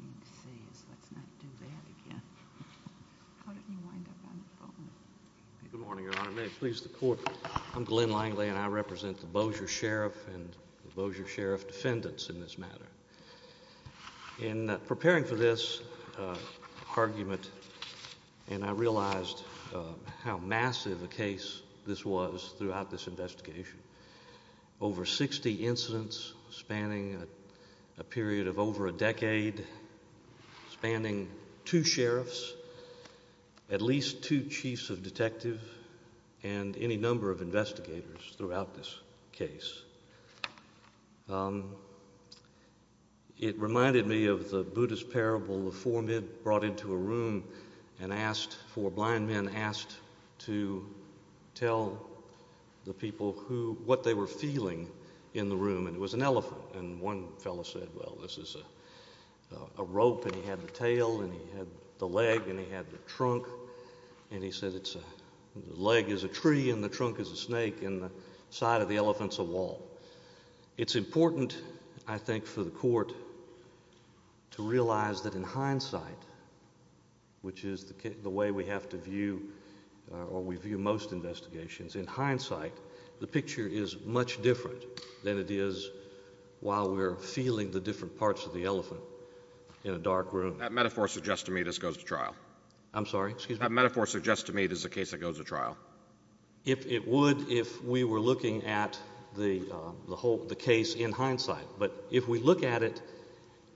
to see is let's not do that again. How did you wind up on the phone? Good morning, Your Honor. May it please the court. I'm Glenn Langley, and I represent the Bossier Sheriff and Bossier Sheriff defendants in this matter in preparing for this argument. And I realized how massive a case this was throughout this investigation. Over 60 incidents spanning a period of over a spanning two sheriffs, at least two chiefs of detective and any number of investigators throughout this case. Um, it reminded me of the Buddhist parable. The form it brought into a room and asked for blind men asked to tell the people who what they were feeling in the room, and it was an elephant. And one fellow said, Well, this is a rope, and he had the tail, and he had the leg, and he had the trunk. And he said, it's a leg is a tree in the trunk is a snake in the side of the elephant's a wall. It's important, I think, for the court to realize that in hindsight, which is the way we have to view or we view most investigations in hindsight, the picture is much different than it is while we're feeling the different parts of the elephant in a dark room. That metaphor suggests to me this goes to trial. I'm sorry. Excuse me. Metaphor suggests to me it is a case that goes to trial. If it would, if we were looking at the whole the case in hindsight. But if we look at it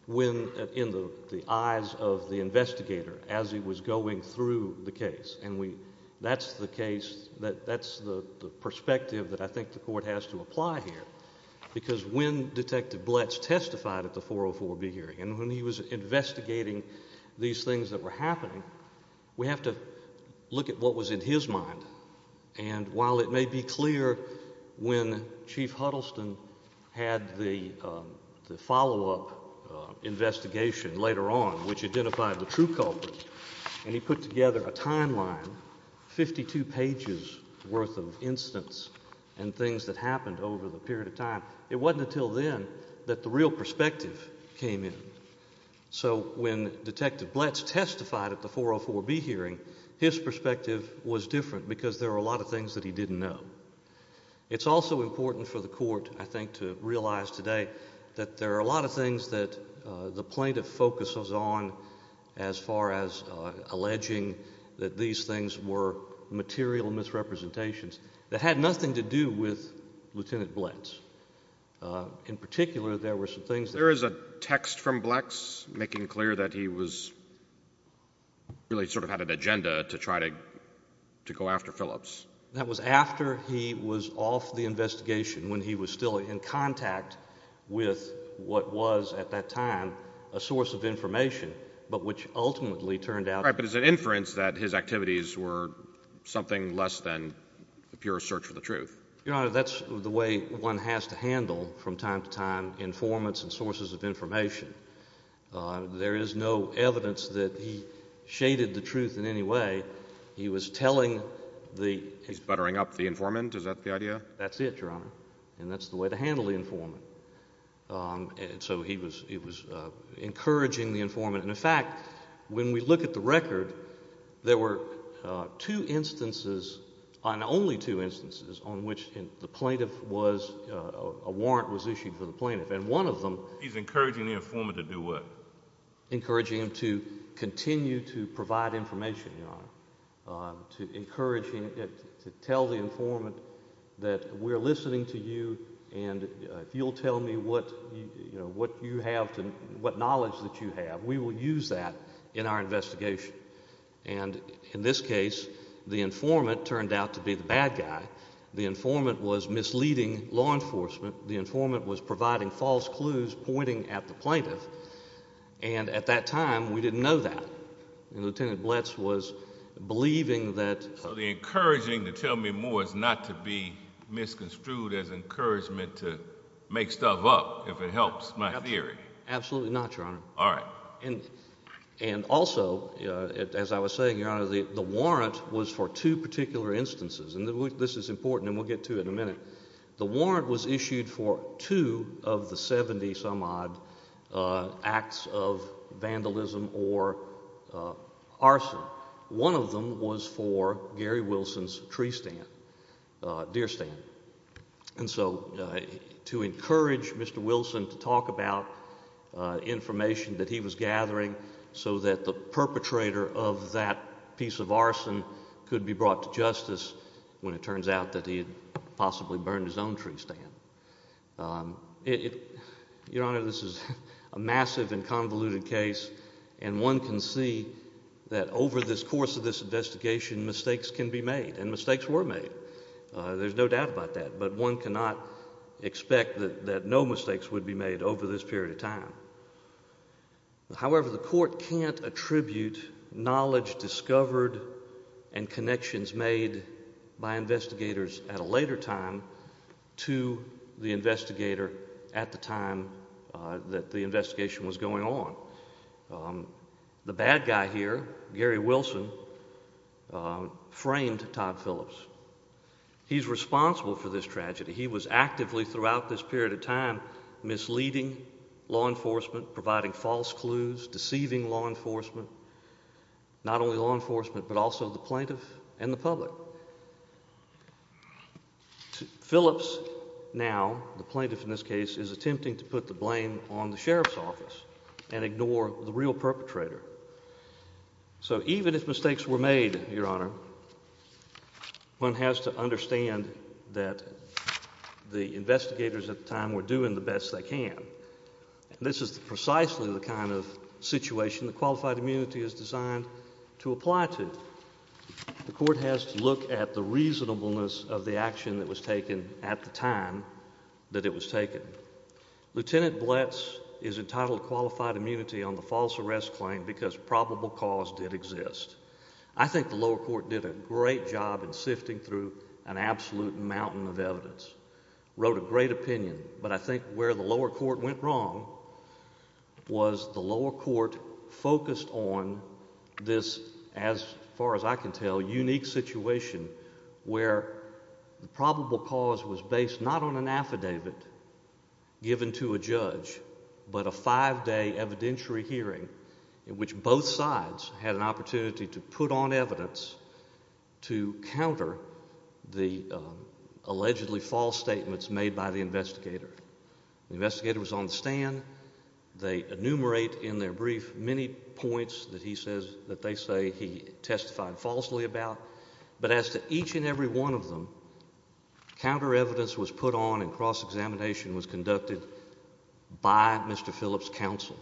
when in the eyes of the investigator as he was going through the case, and we that's the case that that's the perspective that I think the court has to apply here, because when Detective Blitz testified at the 404 B hearing and when he was investigating these things that were happening, we have to look at what was in his mind. And while it may be clear when Chief Huddleston had the follow up investigation later on, which he put together a timeline, 52 pages worth of incidents and things that happened over the period of time, it wasn't until then that the real perspective came in. So when Detective Blitz testified at the 404 B hearing, his perspective was different because there are a lot of things that he didn't know. It's also important for the court, I think, to realize today that there is a text from Blex making clear that he was really sort of had an agenda to try to go after Phillips. That was after he was off the investigation when he was still in contact with what was at that time a source of information, but which ultimately turned out... Right. But it's an inference that his activities were something less than a pure search for the truth. Your Honor, that's the way one has to handle from time to time informants and sources of information. There is no evidence that he shaded the truth in any way. He was telling the... He's buttering up the informant. Is that the idea? That's it, Your Honor. And that's the way to handle the informant. So he was encouraging the informant. And, in fact, when we look at the record, there were two instances, and only two instances, on which the plaintiff was... a warrant was issued for the plaintiff. And one of them... He's encouraging the informant to do what? Encouraging him to continue to provide information, Your Honor, to encourage him to tell the informant that we're listening to you and if you'll tell me what you have to... what knowledge that you have, we will use that in our investigation. And, in this case, the informant turned out to be the bad guy. The informant was misleading law enforcement. The informant was providing false clues pointing at the plaintiff. And, at that time, we didn't know that. And Lieutenant Blitz was believing that... So the encouraging to tell me more is not to be misconstrued as encouragement to make stuff up, if it helps my theory. Absolutely not, Your Honor. All right. And, also, as I was saying, Your Honor, the warrant was for two particular instances. And this is important, and we'll get to it in a minute. The warrant was issued for two of the 70-some-odd acts of vandalism or arson. One of them was for Gary to encourage Mr. Wilson to talk about information that he was gathering so that the perpetrator of that piece of arson could be brought to justice when it turns out that he had possibly burned his own tree stand. Your Honor, this is a massive and convoluted case. And one can see that, over this course of this investigation, mistakes can be made. And mistakes were made. There's no doubt about that. But one cannot expect that no mistakes would be made over this period of time. However, the Court can't attribute knowledge discovered and connections made by investigators at a later time to the investigator at the time that the investigation was going on. The bad guy here, Gary Wilson, framed Todd Phillips. He's responsible for this tragedy. He was actively, throughout this period of time, misleading law enforcement, providing false clues, deceiving law enforcement, not only law enforcement, but also the plaintiff and the public. Phillips, now the plaintiff in this case, is attempting to put the blame on the real perpetrator. So even if mistakes were made, Your Honor, one has to understand that the investigators at the time were doing the best they can. This is precisely the kind of situation that qualified immunity is designed to apply to. The Court has to look at the reasonableness of the action that was taken at the time that it was taken. Lieutenant Blitz is entitled qualified immunity on the false arrest claim because probable cause did exist. I think the lower court did a great job in sifting through an absolute mountain of evidence, wrote a great opinion, but I think where the lower court went wrong was the lower court focused on this, as far as I can tell, unique situation where the probable cause was based not on an affidavit given to a judge, but a five day evidentiary hearing in which both sides had an opportunity to put on evidence to counter the allegedly false statements made by the investigator. The investigator was on the stand. They enumerate in their brief many points that he says that they say he testified falsely about, but as to each and every one of them, counter evidence was put on and cross-examination was conducted by Mr. Phillips' counsel.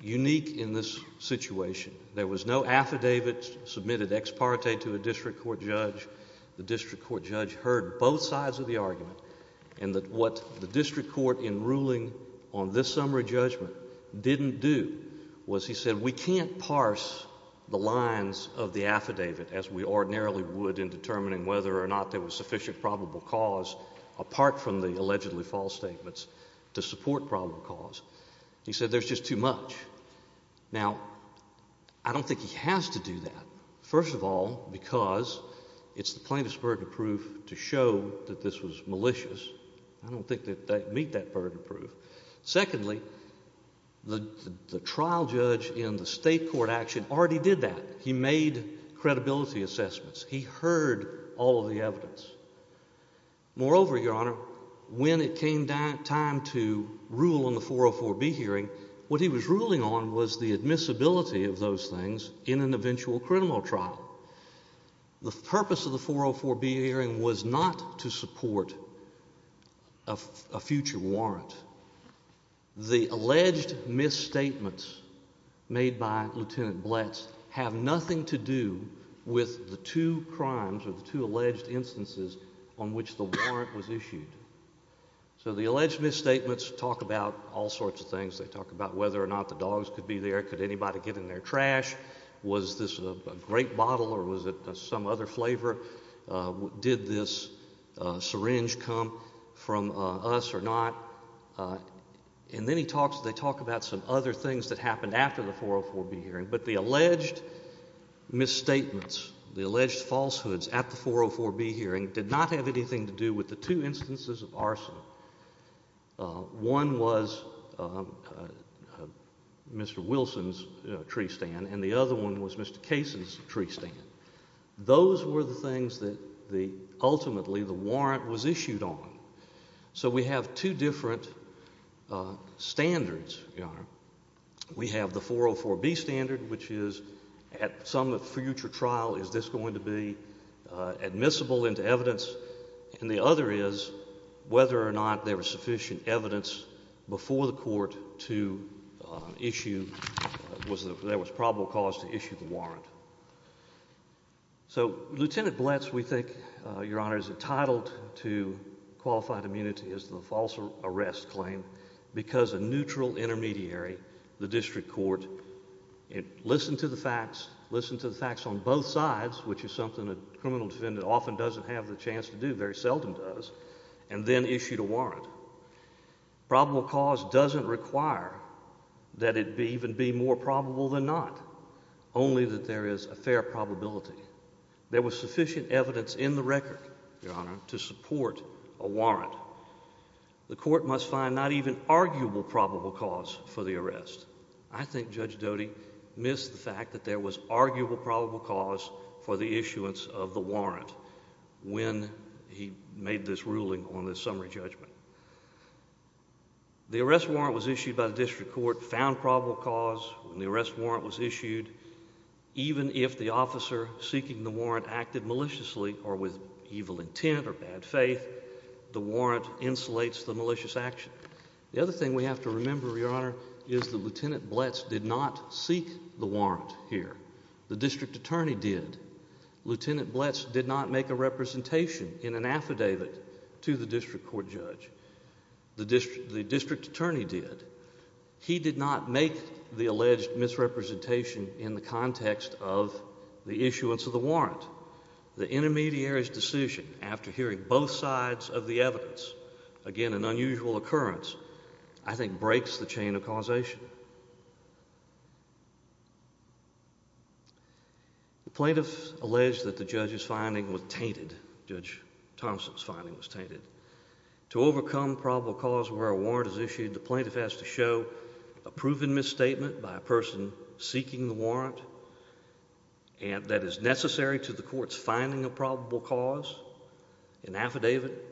Unique in this situation, there was no affidavit submitted ex parte to a district court judge. The district court judge heard both sides of the argument and that what the district court in ruling on this summary judgment didn't do was he said we can't parse the lines of the affidavit as we ordinarily would in determining whether or not there was sufficient probable cause apart from the allegedly false statements to support probable cause. He said there's just too much. Now, I don't think he has to do that. First of all, because it's the plaintiff's burden of proof to show that this was malicious. I don't think that they meet that burden of proof. Secondly, the trial judge in the state court action already did that. He made credibility assessments. He heard all of the evidence. Moreover, Your Honor, when it came time to rule on the 404B hearing, what he was ruling on was the admissibility of those things in an eventual criminal trial. The purpose of the 404B hearing was not to support a future warrant. The alleged misstatements made by Lieutenant Bletch have nothing to do with the two crimes or the two So the alleged misstatements talk about all sorts of things. They talk about whether or not the dogs could be there. Could anybody get in their trash? Was this a grape bottle or was it some other flavor? Did this syringe come from us or not? And then he talks, they talk about some other things that happened after the 404B hearing. But the alleged misstatements, the alleged falsehoods at the 404B hearing did not have anything to do with the two instances of arson. One was Mr. Wilson's tree stand and the other one was Mr. Kaysen's tree stand. Those were the things that ultimately the warrant was issued on. So we have two different standards, Your Honor. We have the 404B standard, which is at some future trial, is this going to be admissible into evidence? And the other is whether or not there was sufficient evidence before the court to issue, was there was probable cause to issue the warrant. So Lieutenant Bletch, we think, Your Honor, is entitled to qualified immunity as the false arrest claim because a neutral intermediary, the district court, listened to the facts, listened to the facts on both sides, which is something a criminal defendant often doesn't have the chance to do, very seldom does, and then issued a warrant. Probable cause doesn't require that it be even be more probable than not, only that there is a fair probability. There was sufficient evidence in the record, Your Honor, to support a warrant. The court must find not even arguable probable cause for the arrest. I think Judge Doty missed the fact that there was arguable probable cause for the issuance of the warrant when he made this ruling on this summary judgment. The arrest warrant was issued by the district court, found probable cause when the arrest warrant was issued, even if the officer seeking the warrant acted maliciously or with evil intent or bad faith, the warrant insulates the malicious action. The other thing we have to remember, Your Honor, is that Lieutenant Bletch did not issue the warrant here. The district attorney did. Lieutenant Bletch did not make a representation in an affidavit to the district court judge. The district attorney did. He did not make the alleged misrepresentation in the context of the issuance of the warrant. The intermediary's decision, after hearing both sides of the evidence, again an unusual occurrence, I think breaks the The plaintiff alleged that the judge's finding was tainted. Judge Thompson's finding was tainted. To overcome probable cause where a warrant is issued, the plaintiff has to show a proven misstatement by a person seeking the warrant and that is necessary to the court's finding of probable cause. In affidavit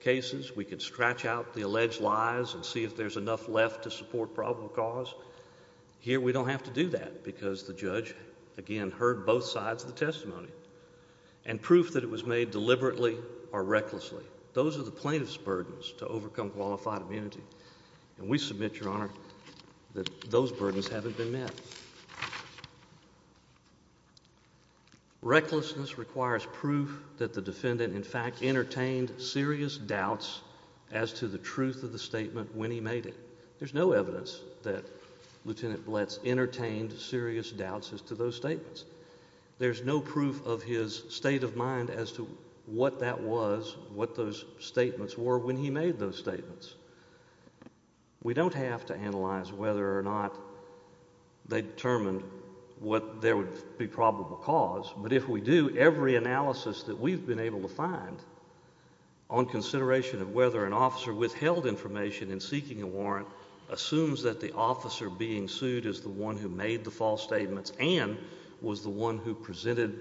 cases, we could stretch out the alleged lies and see if there's enough left to support probable cause. Here we don't have to do that because the judge again heard both sides of the testimony and proof that it was made deliberately or recklessly. Those are the plaintiff's burdens to overcome qualified immunity. And we submit, Your Honor, that those burdens haven't been met. Recklessness requires proof that the defendant in fact entertained serious doubts as to the truth of the statement when he made it. There's no evidence that Lieutenant Blitz entertained serious doubts as to those statements. There's no proof of his state of mind as to what that was, what those statements were when he made those statements. We don't have to analyze whether or not they determined what there would be probable cause. But if we do, every analysis that we've been able to find on consideration of whether an officer withheld information in seeking a warrant assumes that the officer being sued is the one who made the false statements and was the one who presented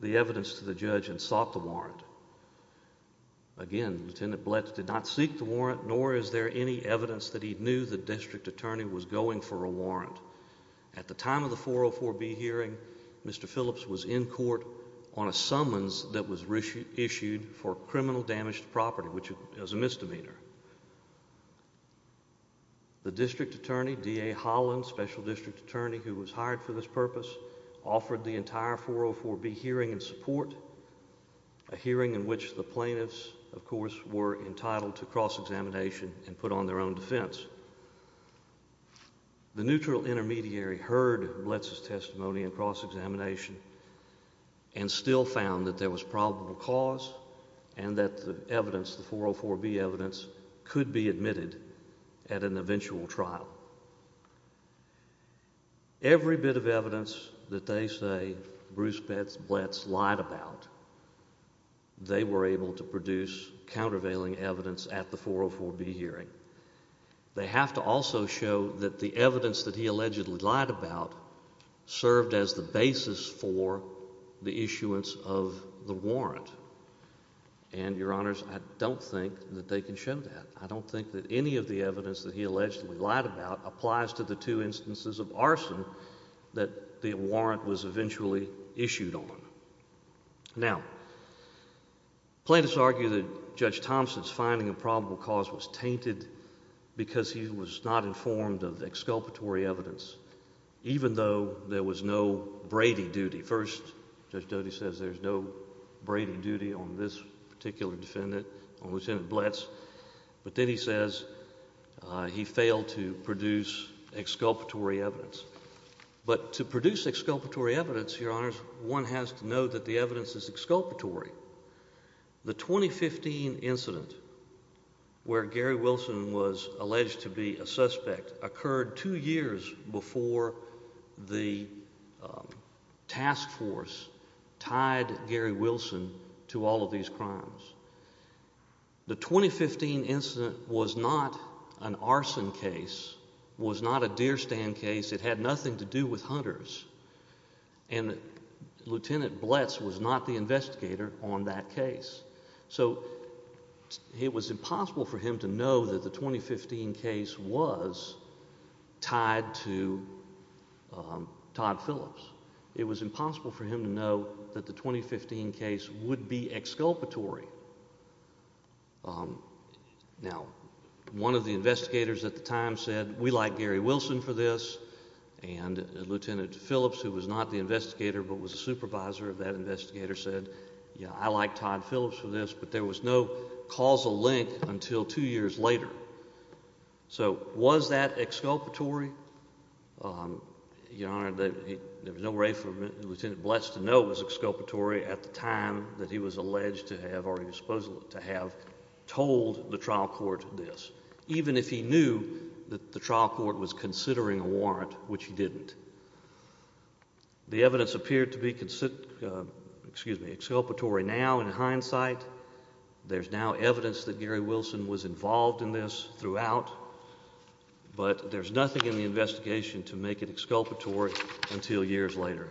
the evidence to the judge and sought the warrant. Again, Lieutenant Blitz did not seek the warrant, nor is there any evidence that he knew the district attorney was going for a warrant. At the time of the for criminal damaged property, which is a misdemeanor. The district attorney, D. A. Holland, special district attorney who was hired for this purpose, offered the entire 404 be hearing and support a hearing in which the plaintiffs, of course, were entitled to cross examination and put on their own defense. The neutral intermediary heard Blitz's testimony and cross examination and still found that there was probable cause and that the evidence, the 404 B evidence could be admitted at an eventual trial. Every bit of evidence that they say Bruce Blitz lied about, they were able to produce countervailing evidence at the 404 B hearing. They have to also show that the evidence that he allegedly lied about served as the basis for the issuance of the warrant. And your honors, I don't think that they can show that. I don't think that any of the evidence that he allegedly lied about applies to the two instances of arson that the warrant was eventually issued on. Now, plaintiffs argue that Judge Thompson's finding of probable cause was tainted because he was not informed of the exculpatory evidence, even though there was no Brady duty. First, Judge Doty says there's no Brady duty on this particular defendant, on Lieutenant Blitz. But then he says he failed to produce exculpatory evidence. But to produce exculpatory evidence, your honors, one has to know that the evidence is exculpatory. The 2015 incident where Gary Wilson was alleged to be a suspect occurred two years before the task force tied Gary Wilson to all of these crimes. The 2015 incident was not an arson case, was not a deerstand case. It had nothing to do with hunters. And Lieutenant Blitz was not the investigator on that case. So it was impossible for him to know that the 2015 case was tied to Todd Phillips. It was impossible for him to know that the 2015 case would be exculpatory. Now, one of the investigators at the time said, we like Gary Wilson for this. And Lieutenant Phillips, who was not the investigator, but was a supervisor of that investigator, said, yeah, I like Todd Phillips for this. But there was no link until two years later. So was that exculpatory? Your honor, there was no way for Lieutenant Blitz to know it was exculpatory at the time that he was alleged to have, or he was supposed to have, told the trial court this, even if he knew that the trial court was considering a warrant, which he didn't. The evidence appeared to be, excuse me, exculpatory now in hindsight. There's now evidence that Gary Wilson was involved in this throughout, but there's nothing in the investigation to make it exculpatory until years later.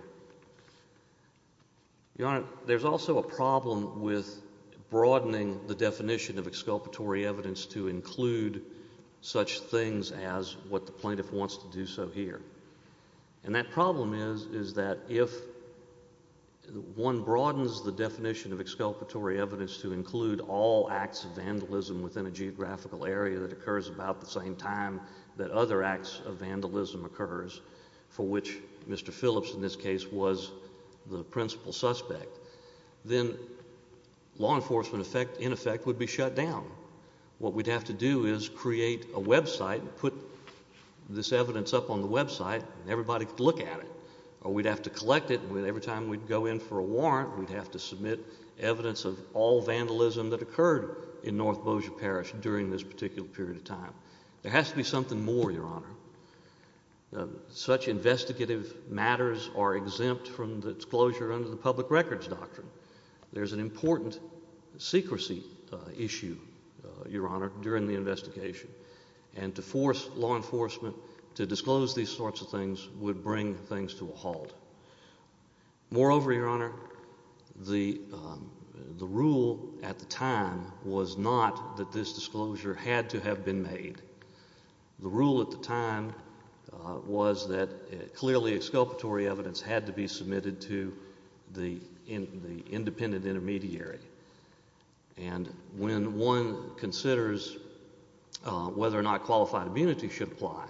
Your honor, there's also a problem with broadening the definition of exculpatory evidence to include such things as what the plaintiff wants to do so here. And that problem is, is that if one broadens the definition of evidence to include all acts of vandalism within a geographical area that occurs about the same time that other acts of vandalism occurs, for which Mr. Phillips, in this case, was the principal suspect, then law enforcement in effect would be shut down. What we'd have to do is create a website, put this evidence up on the website, and everybody could look at it. Or we'd have to collect it, and every time we'd go in for a warrant, we'd have to submit evidence of all vandalism that occurred in North Bossier Parish during this particular period of time. There has to be something more, your honor. Such investigative matters are exempt from the disclosure under the public records doctrine. There's an important secrecy issue, your honor, during the investigation, and to force law enforcement to disclose these sorts of things would bring things to a halt. Moreover, your honor, the rule at the time was not that this disclosure had to have been made. The rule at the time was that clearly exculpatory evidence had to be submitted to the independent intermediary. And when one considers whether or not qualified immunity should apply,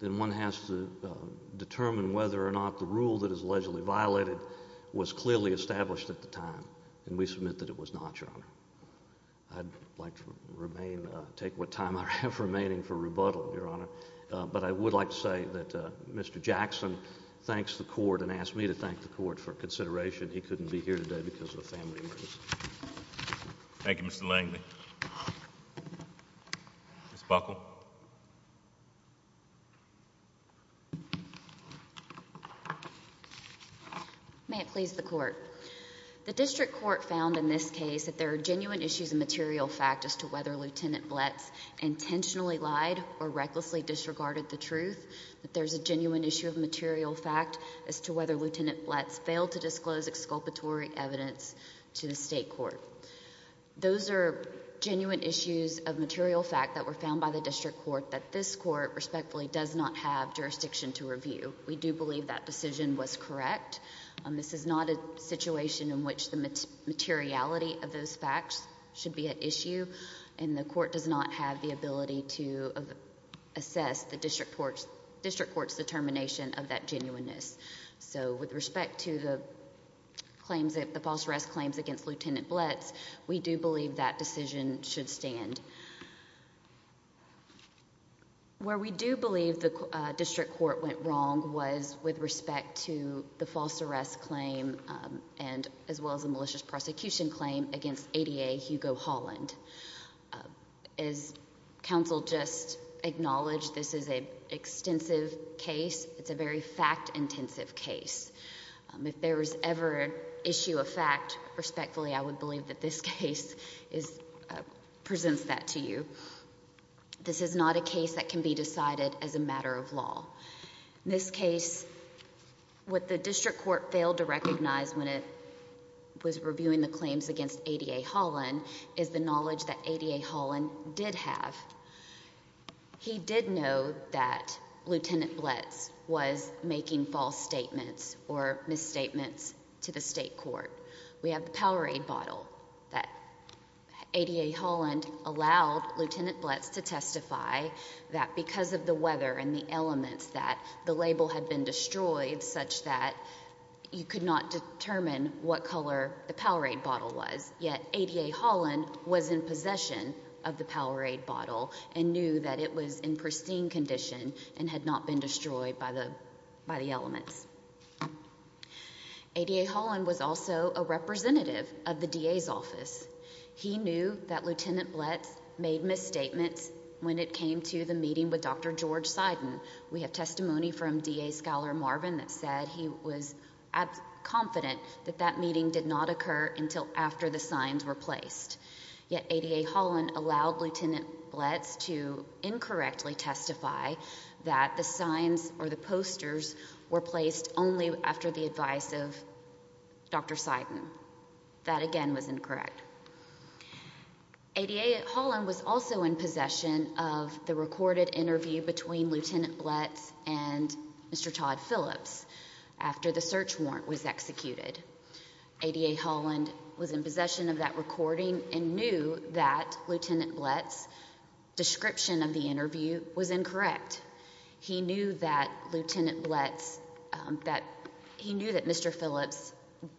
then one has to determine whether or not the rule that is allegedly violated was clearly established at the time. And we submit that it was not, your honor. I'd like to take what time I have remaining for rebuttal, your honor. But I would like to say that Mr. Jackson thanks the court and asked me to thank the court for consideration. He couldn't be here today because of a family emergency. Thank you, Mr. Langley. Ms. Buckle? May it please the court. The district court found in this case that there are genuine issues of material fact as to whether Lieutenant Bletz intentionally lied or recklessly disregarded the truth, that there's a genuine issue of material fact as to whether Lieutenant Bletz failed to disclose exculpatory evidence to the state court. Those are genuine issues of material fact that were found by the district court that this court respectfully does not have that decision was correct. This is not a situation in which the materiality of those facts should be an issue. And the court does not have the ability to assess the district court's determination of that genuineness. So with respect to the claims that the false arrest claims against Lieutenant Blitz, we do believe that decision should stand. Where we do believe the district court went wrong was with respect to the false arrest claim and as well as a malicious prosecution claim against ADA Hugo Holland. As counsel just acknowledged, this is an extensive case. It's a very fact-intensive case. If there was ever an issue of fact, respectfully, I would believe that this case presents that to you. This is not a case that can be decided as a matter of law. In this case, what the district court failed to recognize when it was reviewing the claims against ADA Holland is the knowledge that ADA Holland did have. He did know that Lieutenant Blitz was making false statements or misstatements to the district court. We have the Powerade bottle that ADA Holland allowed Lieutenant Blitz to testify that because of the weather and the elements that the label had been destroyed such that you could not determine what color the Powerade bottle was. Yet ADA Holland was in possession of the Powerade bottle and knew that it was in pristine condition and had not been destroyed by the elements. ADA Holland was also a representative of the DA's office. He knew that Lieutenant Blitz made misstatements when it came to the meeting with Dr. George Seiden. We have testimony from DA Scholar Marvin that said he was confident that that meeting did not occur until after the signs were placed. Yet ADA Holland allowed Lieutenant Blitz to incorrectly testify that the signs or the posters were placed only after the advice of Dr. Seiden. That again was incorrect. ADA Holland was also in possession of the recorded interview between Lieutenant Blitz and Mr. Todd Phillips after the search warrant was executed. ADA Holland was in possession of that recording and knew that Lieutenant Blitz's description of the interview was incorrect. He knew that Mr. Phillips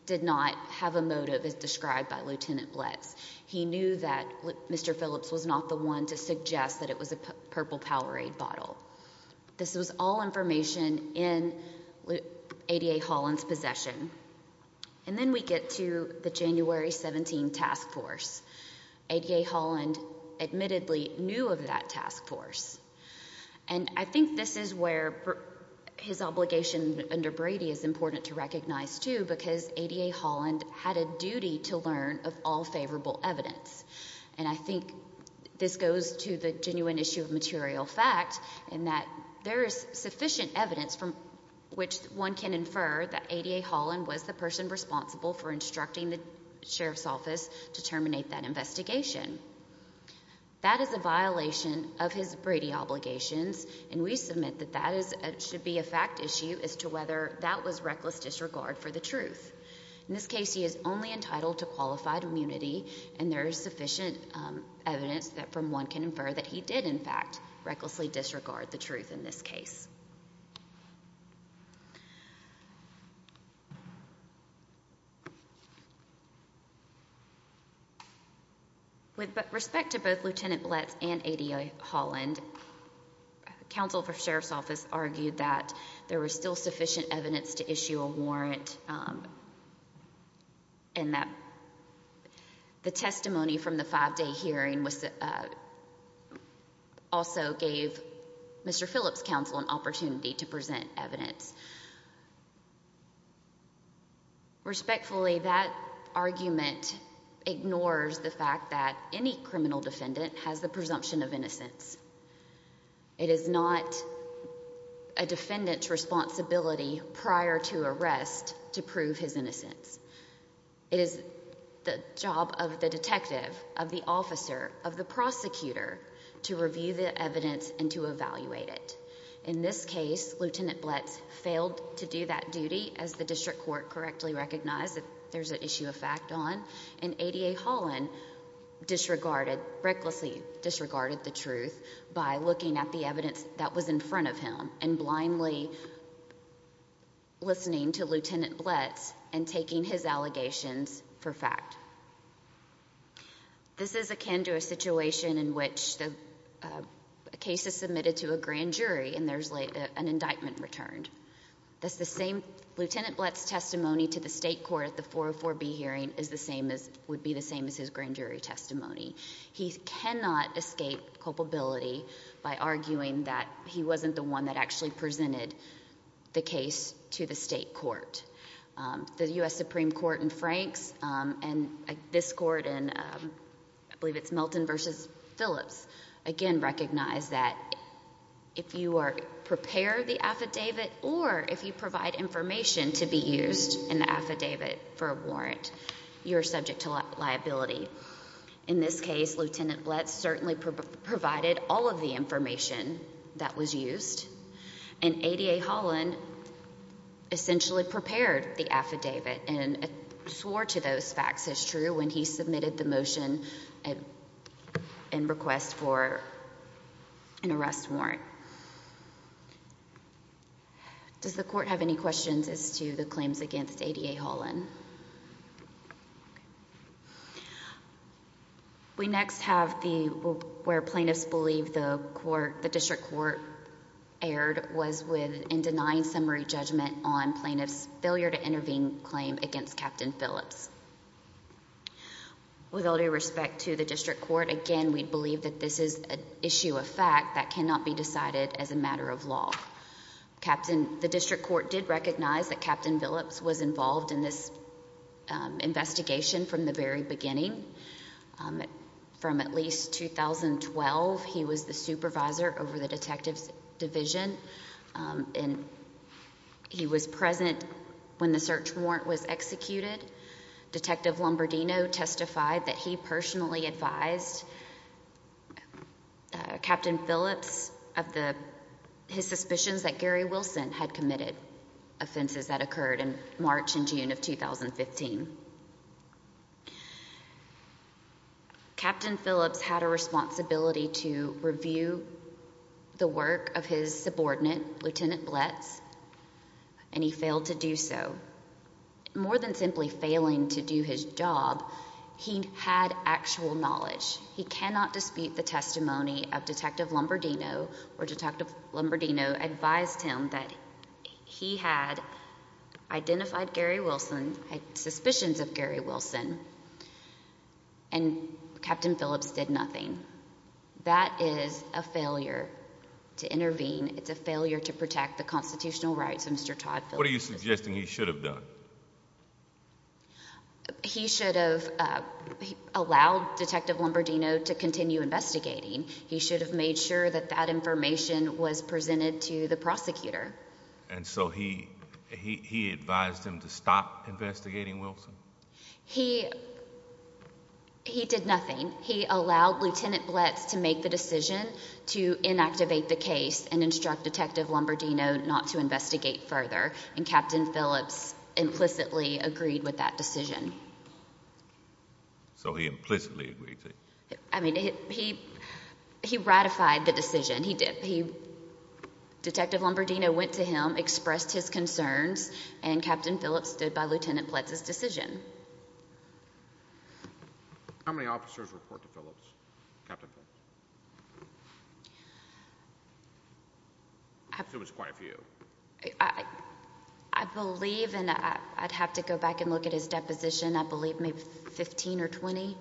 did not have a motive as described by Lieutenant Blitz. He knew that Mr. Phillips was not the one to suggest that it was a purple Powerade bottle. This was all information in ADA Holland's admittedly new of that task force. And I think this is where his obligation under Brady is important to recognize too because ADA Holland had a duty to learn of all favorable evidence. And I think this goes to the genuine issue of material fact in that there is sufficient evidence from which one can infer that ADA Holland was the person responsible for instructing the investigation. That is a violation of his Brady obligations and we submit that that should be a fact issue as to whether that was reckless disregard for the truth. In this case he is only entitled to qualified immunity and there is sufficient evidence that from one can infer that he did in fact recklessly disregard the truth in this case. With respect to both Lieutenant Blitz and ADA Holland, Counsel for Sheriff's Office argued that there was still sufficient evidence to issue a warrant and that the testimony from the five-day hearing was also gave Mr. Phillips' counsel an opportunity to present evidence. Respectfully that argument ignores the fact that any criminal defendant has the presumption of innocence. It is not a defendant's responsibility prior to arrest to prove his innocence. It is the job of the detective, of the officer, of the prosecutor to review the evidence and to evaluate it. In this case Lieutenant Blitz failed to do that duty as the district court correctly recognized that there's an issue of fact on and ADA Holland disregarded, recklessly disregarded the truth by looking at the evidence that was in front of him and blindly listening to Lieutenant Blitz and taking his allegations for fact. This is akin to a situation in which the case is submitted to a grand jury and there's an indictment returned. That's the same Lieutenant Blitz testimony to the state court at the 404B hearing is the same as would be the same as his grand jury testimony. He cannot escape culpability by arguing that he wasn't the one that actually presented the case to the state court. The US Supreme Court and Franks and this court and I believe it's Melton versus Phillips again recognize that if you are prepare the affidavit or if you provide information to be used in the affidavit for a warrant you're subject to liability. In this case Lieutenant Blitz certainly provided all of the information that was used and ADA Holland essentially prepared the affidavit and swore to those facts as true when he submitted the motion and request for an arrest warrant. Does the court have any questions as to the claims against ADA Holland? We next have the where plaintiffs believe the court the district court erred was with in denying summary judgment on plaintiffs failure to intervene claim against Captain Phillips. With all due respect to the district court again we believe that this is an issue of fact that cannot be decided as a matter of law. Captain the district court did recognize that Captain Phillips was involved in this investigation from the very beginning from at least 2012 he was the supervisor over the detectives division and he was present when the search warrant was executed. Detective Lombardino testified that he personally advised Captain Phillips of the his suspicions that Gary Wilson had committed offenses that occurred in March and June of 2015. Captain Phillips had a responsibility to review the work of his subordinate Lieutenant Blitz and he failed to do so. More than simply failing to do his job he had actual knowledge he cannot dispute the testimony of Detective Lombardino or Detective Lombardino advised him that he had identified Gary Wilson had suspicions of Gary Wilson and Captain Phillips did nothing. That is a failure to intervene it's a failure to protect the constitutional rights of Mr. Todd what are you suggesting he should have done? He should have allowed Detective Lombardino to continue investigating he should have made sure that that information was presented to the prosecutor. And so he he advised him to stop investigating Wilson? He he did nothing he allowed Lieutenant Blitz to make the decision to inactivate the case and instruct Detective Lombardino not to investigate further and Captain Phillips implicitly agreed with that decision. So he implicitly agreed? I mean he he ratified the decision he did he Detective Lombardino went to him expressed his concerns and Captain Phillips stood by Lieutenant Blitz's decision. How many officers report to I believe and I'd have to go back and look at his deposition I believe maybe 15 or 20.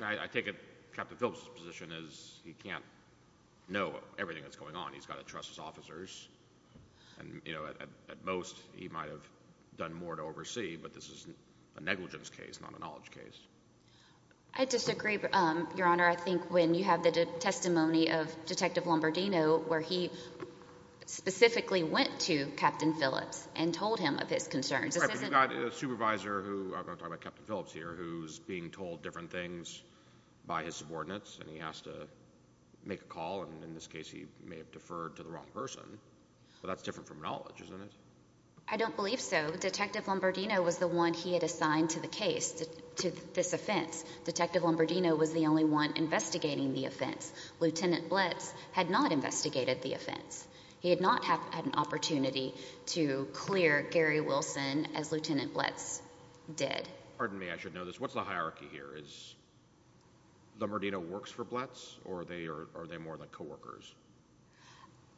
I take it Captain Phillips's position is he can't know everything that's going on he's got to trust his officers and you know at most he might have done more to oversee but this is a negligence case not a knowledge case. I disagree your honor I think when you have the testimony of Detective Lombardino where he specifically went to Captain Phillips and told him of his concerns. We've got a supervisor who I'm talking about Captain Phillips here who's being told different things by his subordinates and he has to make a call and in this case he may have deferred to the wrong person but that's different from knowledge isn't it? I don't believe so Detective Lombardino was the one he had assigned to the case to this offense. Detective Lombardino was the only one investigating the offense. Lieutenant Blitz had not investigated the offense. He had not had an opportunity to clear Gary Wilson as Lieutenant Blitz did. Pardon me I should know this what's the hierarchy here is Lombardino works for Blitz or are they more than co-workers?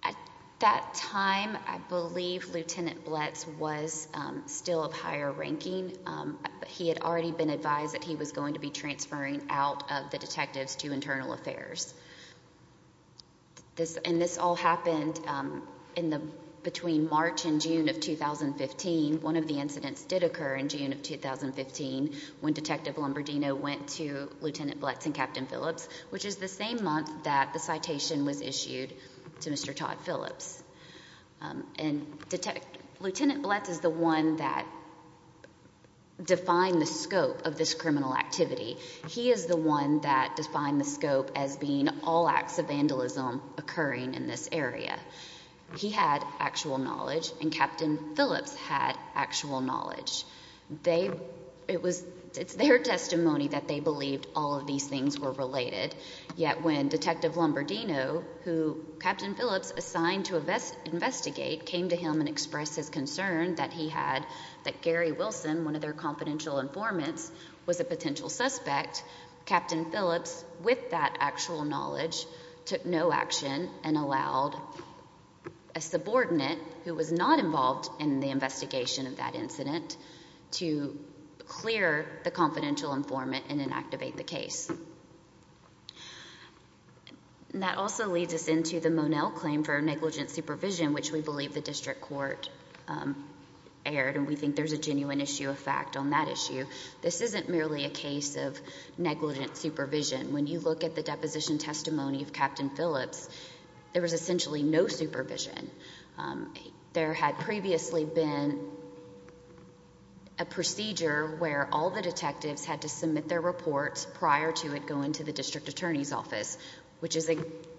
At that time I believe Lieutenant Blitz was still of higher ranking but he had already been advised that he was going to be transferring out of the detectives to internal affairs. This and this all happened in the between March and June of 2015. One of the incidents did occur in June of 2015 when Detective Lombardino went to Lieutenant Blitz and Captain Phillips which is the same month that the citation was issued to Mr. Todd Phillips and Detective Lieutenant Blitz is the one that defined the scope of this criminal activity. He is the one that defined the scope as being all acts of vandalism occurring in this area. He had actual knowledge and Captain Phillips had actual knowledge. It's their testimony that they believed all of these things were related yet when Detective Lombardino who Captain Phillips assigned to invest investigate came to him and expressed his concern that he had that was a potential suspect Captain Phillips with that actual knowledge took no action and allowed a subordinate who was not involved in the investigation of that incident to clear the confidential informant and inactivate the case. That also leads us into the Monell claim for negligent supervision which we believe the district court aired and we think there's a genuine issue of fact on that issue. This isn't merely a case of negligent supervision. When you look at the deposition testimony of Captain Phillips there was essentially no supervision. There had previously been a procedure where all the detectives had to submit their reports prior to it going to the district attorney's office which is a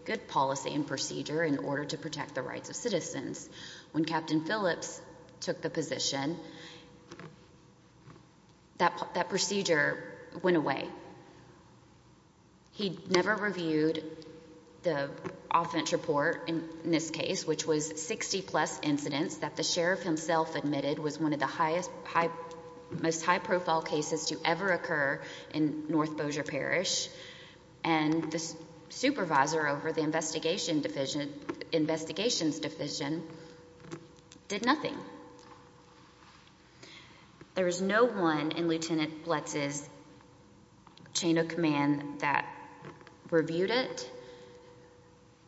good policy and procedure in order to protect the rights of citizens. When Captain Phillips took the position that procedure went away. He never reviewed the offense report in this case which was 60 plus incidents that the sheriff himself admitted was one of the highest high most high profile cases to ever occur in North Bossier Parish and the supervisor over the investigation division investigations division did nothing. There is no one in Lieutenant Blitz's chain of command that reviewed it.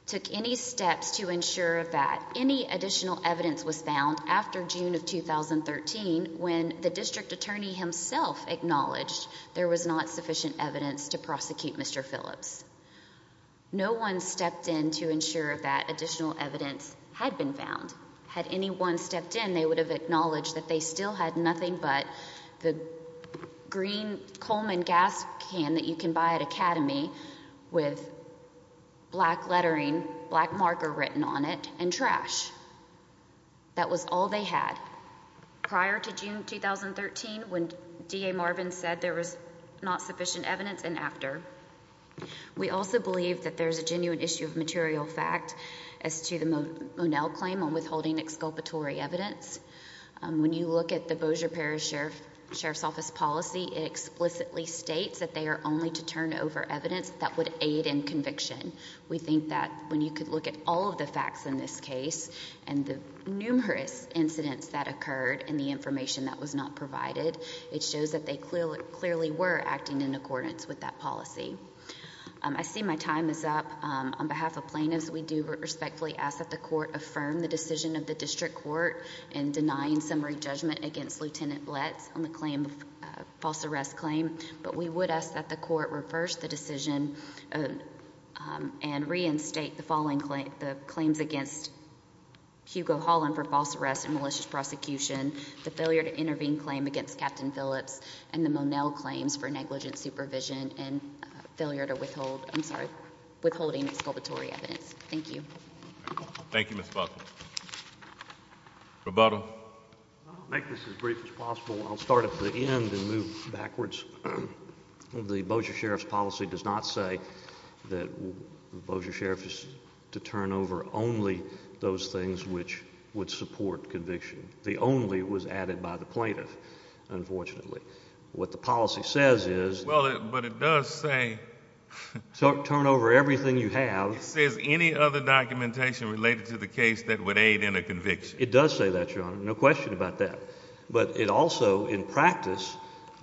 Took any steps to ensure that any additional evidence was found after June of 2013 when the district attorney himself acknowledged there was not in to ensure that additional evidence had been found. Had anyone stepped in they would have acknowledged that they still had nothing but the green Coleman gas can that you can buy at Academy with black lettering black marker written on it and trash. That was all they had prior to June 2013 when DA Marvin said there was not sufficient evidence and after. We also believe that there's a material fact as to the Monell claim on withholding exculpatory evidence when you look at the Bosier Parish Sheriff Sheriff's Office policy explicitly states that they are only to turn over evidence that would aid in conviction. We think that when you could look at all of the facts in this case and the numerous incidents that occurred in the information that was not provided it shows that they clearly clearly were acting in accordance with that policy. I see my time is up on behalf of plaintiffs. We do respectfully ask that the court affirmed the decision of the district court and denying summary judgment against lieutenant let's on the claim of false arrest claim, but we would ask that the court reversed the decision and reinstate the following claim the claims against Hugo Holland for false arrest and malicious prosecution the failure to intervene claim against Captain Phillips and the failure to withhold. I'm sorry withholding exculpatory evidence. Thank you. Thank you, Miss Buckle. Roboto make this as brief as possible. I'll start at the end and move backwards. The Bosier Sheriff's policy does not say that the Bosier Sheriff is to turn over only those things which would support conviction. The only was added by the plaintiff. Unfortunately what the policy says is well, but it does say so turn over everything you have says any other documentation related to the case that would aid in a conviction. It does say that you're on. No question about that. But it also in practice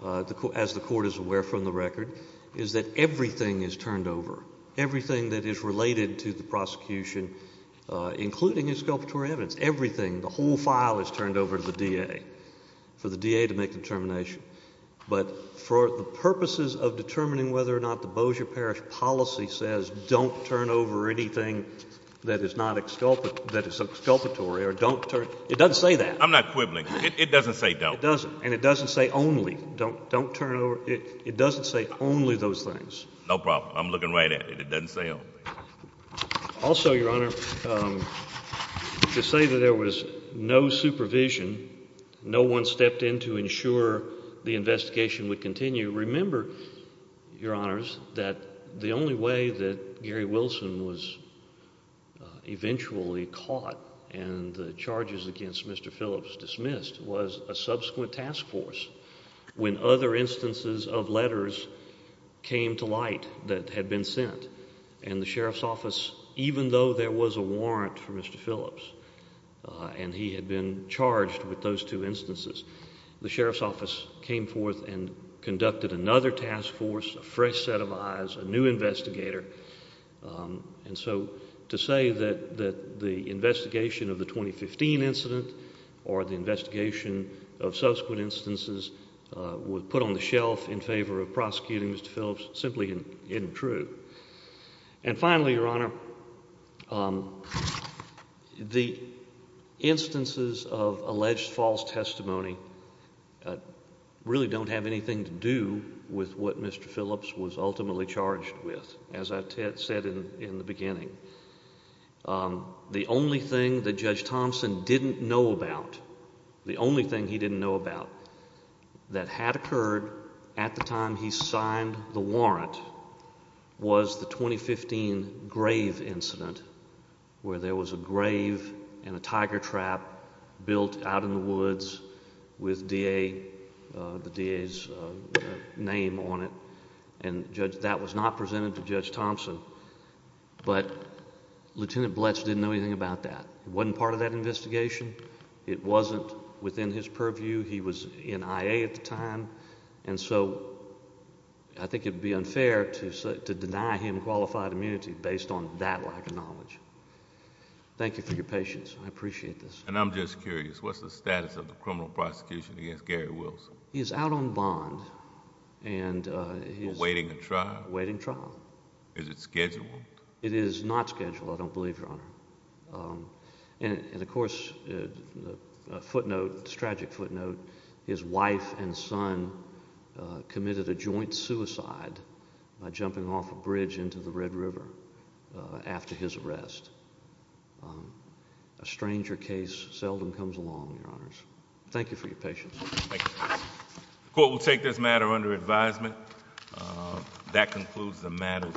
as the court is aware from the record is that everything is turned over everything that is related to the prosecution, including exculpatory evidence, everything. The whole file is turned over to the D. A. For the D. A. To make of determining whether or not the Bosier Parish policy says don't turn over anything that is not exculpate that is exculpatory or don't turn. It doesn't say that I'm not quibbling. It doesn't say don't doesn't and it doesn't say only don't don't turn over. It doesn't say only those things. No problem. I'm looking right at it. It doesn't say also, Your Honor, um, to say that there was no supervision. No one stepped in to ensure the investigation would continue. Remember, Your Honors, that the only way that Gary Wilson was eventually caught and the charges against Mr Phillips dismissed was a subsequent task force. When other instances of letters came to light that had been sent and the sheriff's office, even though there was a warrant for Mr Phillips on, he had been charged with those two instances. The sheriff's came forth and conducted another task force, a fresh set of eyes, a new investigator. Um, and so to say that that the investigation of the 2015 incident or the investigation of subsequent instances, uh, would put on the shelf in favor of prosecuting Mr Phillips simply isn't true. And finally, Your Honor, um, the instances of alleged false testimony, uh, really don't have anything to do with what Mr Phillips was ultimately charged with. As I said in the beginning, um, the only thing that Judge Thompson didn't know about, the only thing he didn't know about that had occurred at the time he grave incident where there was a grave and a tiger trap built out in the woods with D. A. The days name on it and judge that was not presented to Judge Thompson. But Lieutenant Bletch didn't know anything about that one part of that investigation. It wasn't within his purview. He was in I. A. At the time. And so I think it would be unfair to deny him qualified immunity based on that lack of knowledge. Thank you for your patience. I appreciate this. And I'm just curious. What's the status of the criminal prosecution against Gary Wilson? He's out on bond and he's waiting to try waiting trial. Is it scheduled? It is not scheduled. I don't believe your honor. Um, and of course, footnote, tragic footnote. His wife and son committed a joint suicide by jumping off a bridge into the Red River after his arrest. A stranger case seldom comes along. Your honors. Thank you for your patience. Thank you. Court will take this matter under advisement. That concludes the matter.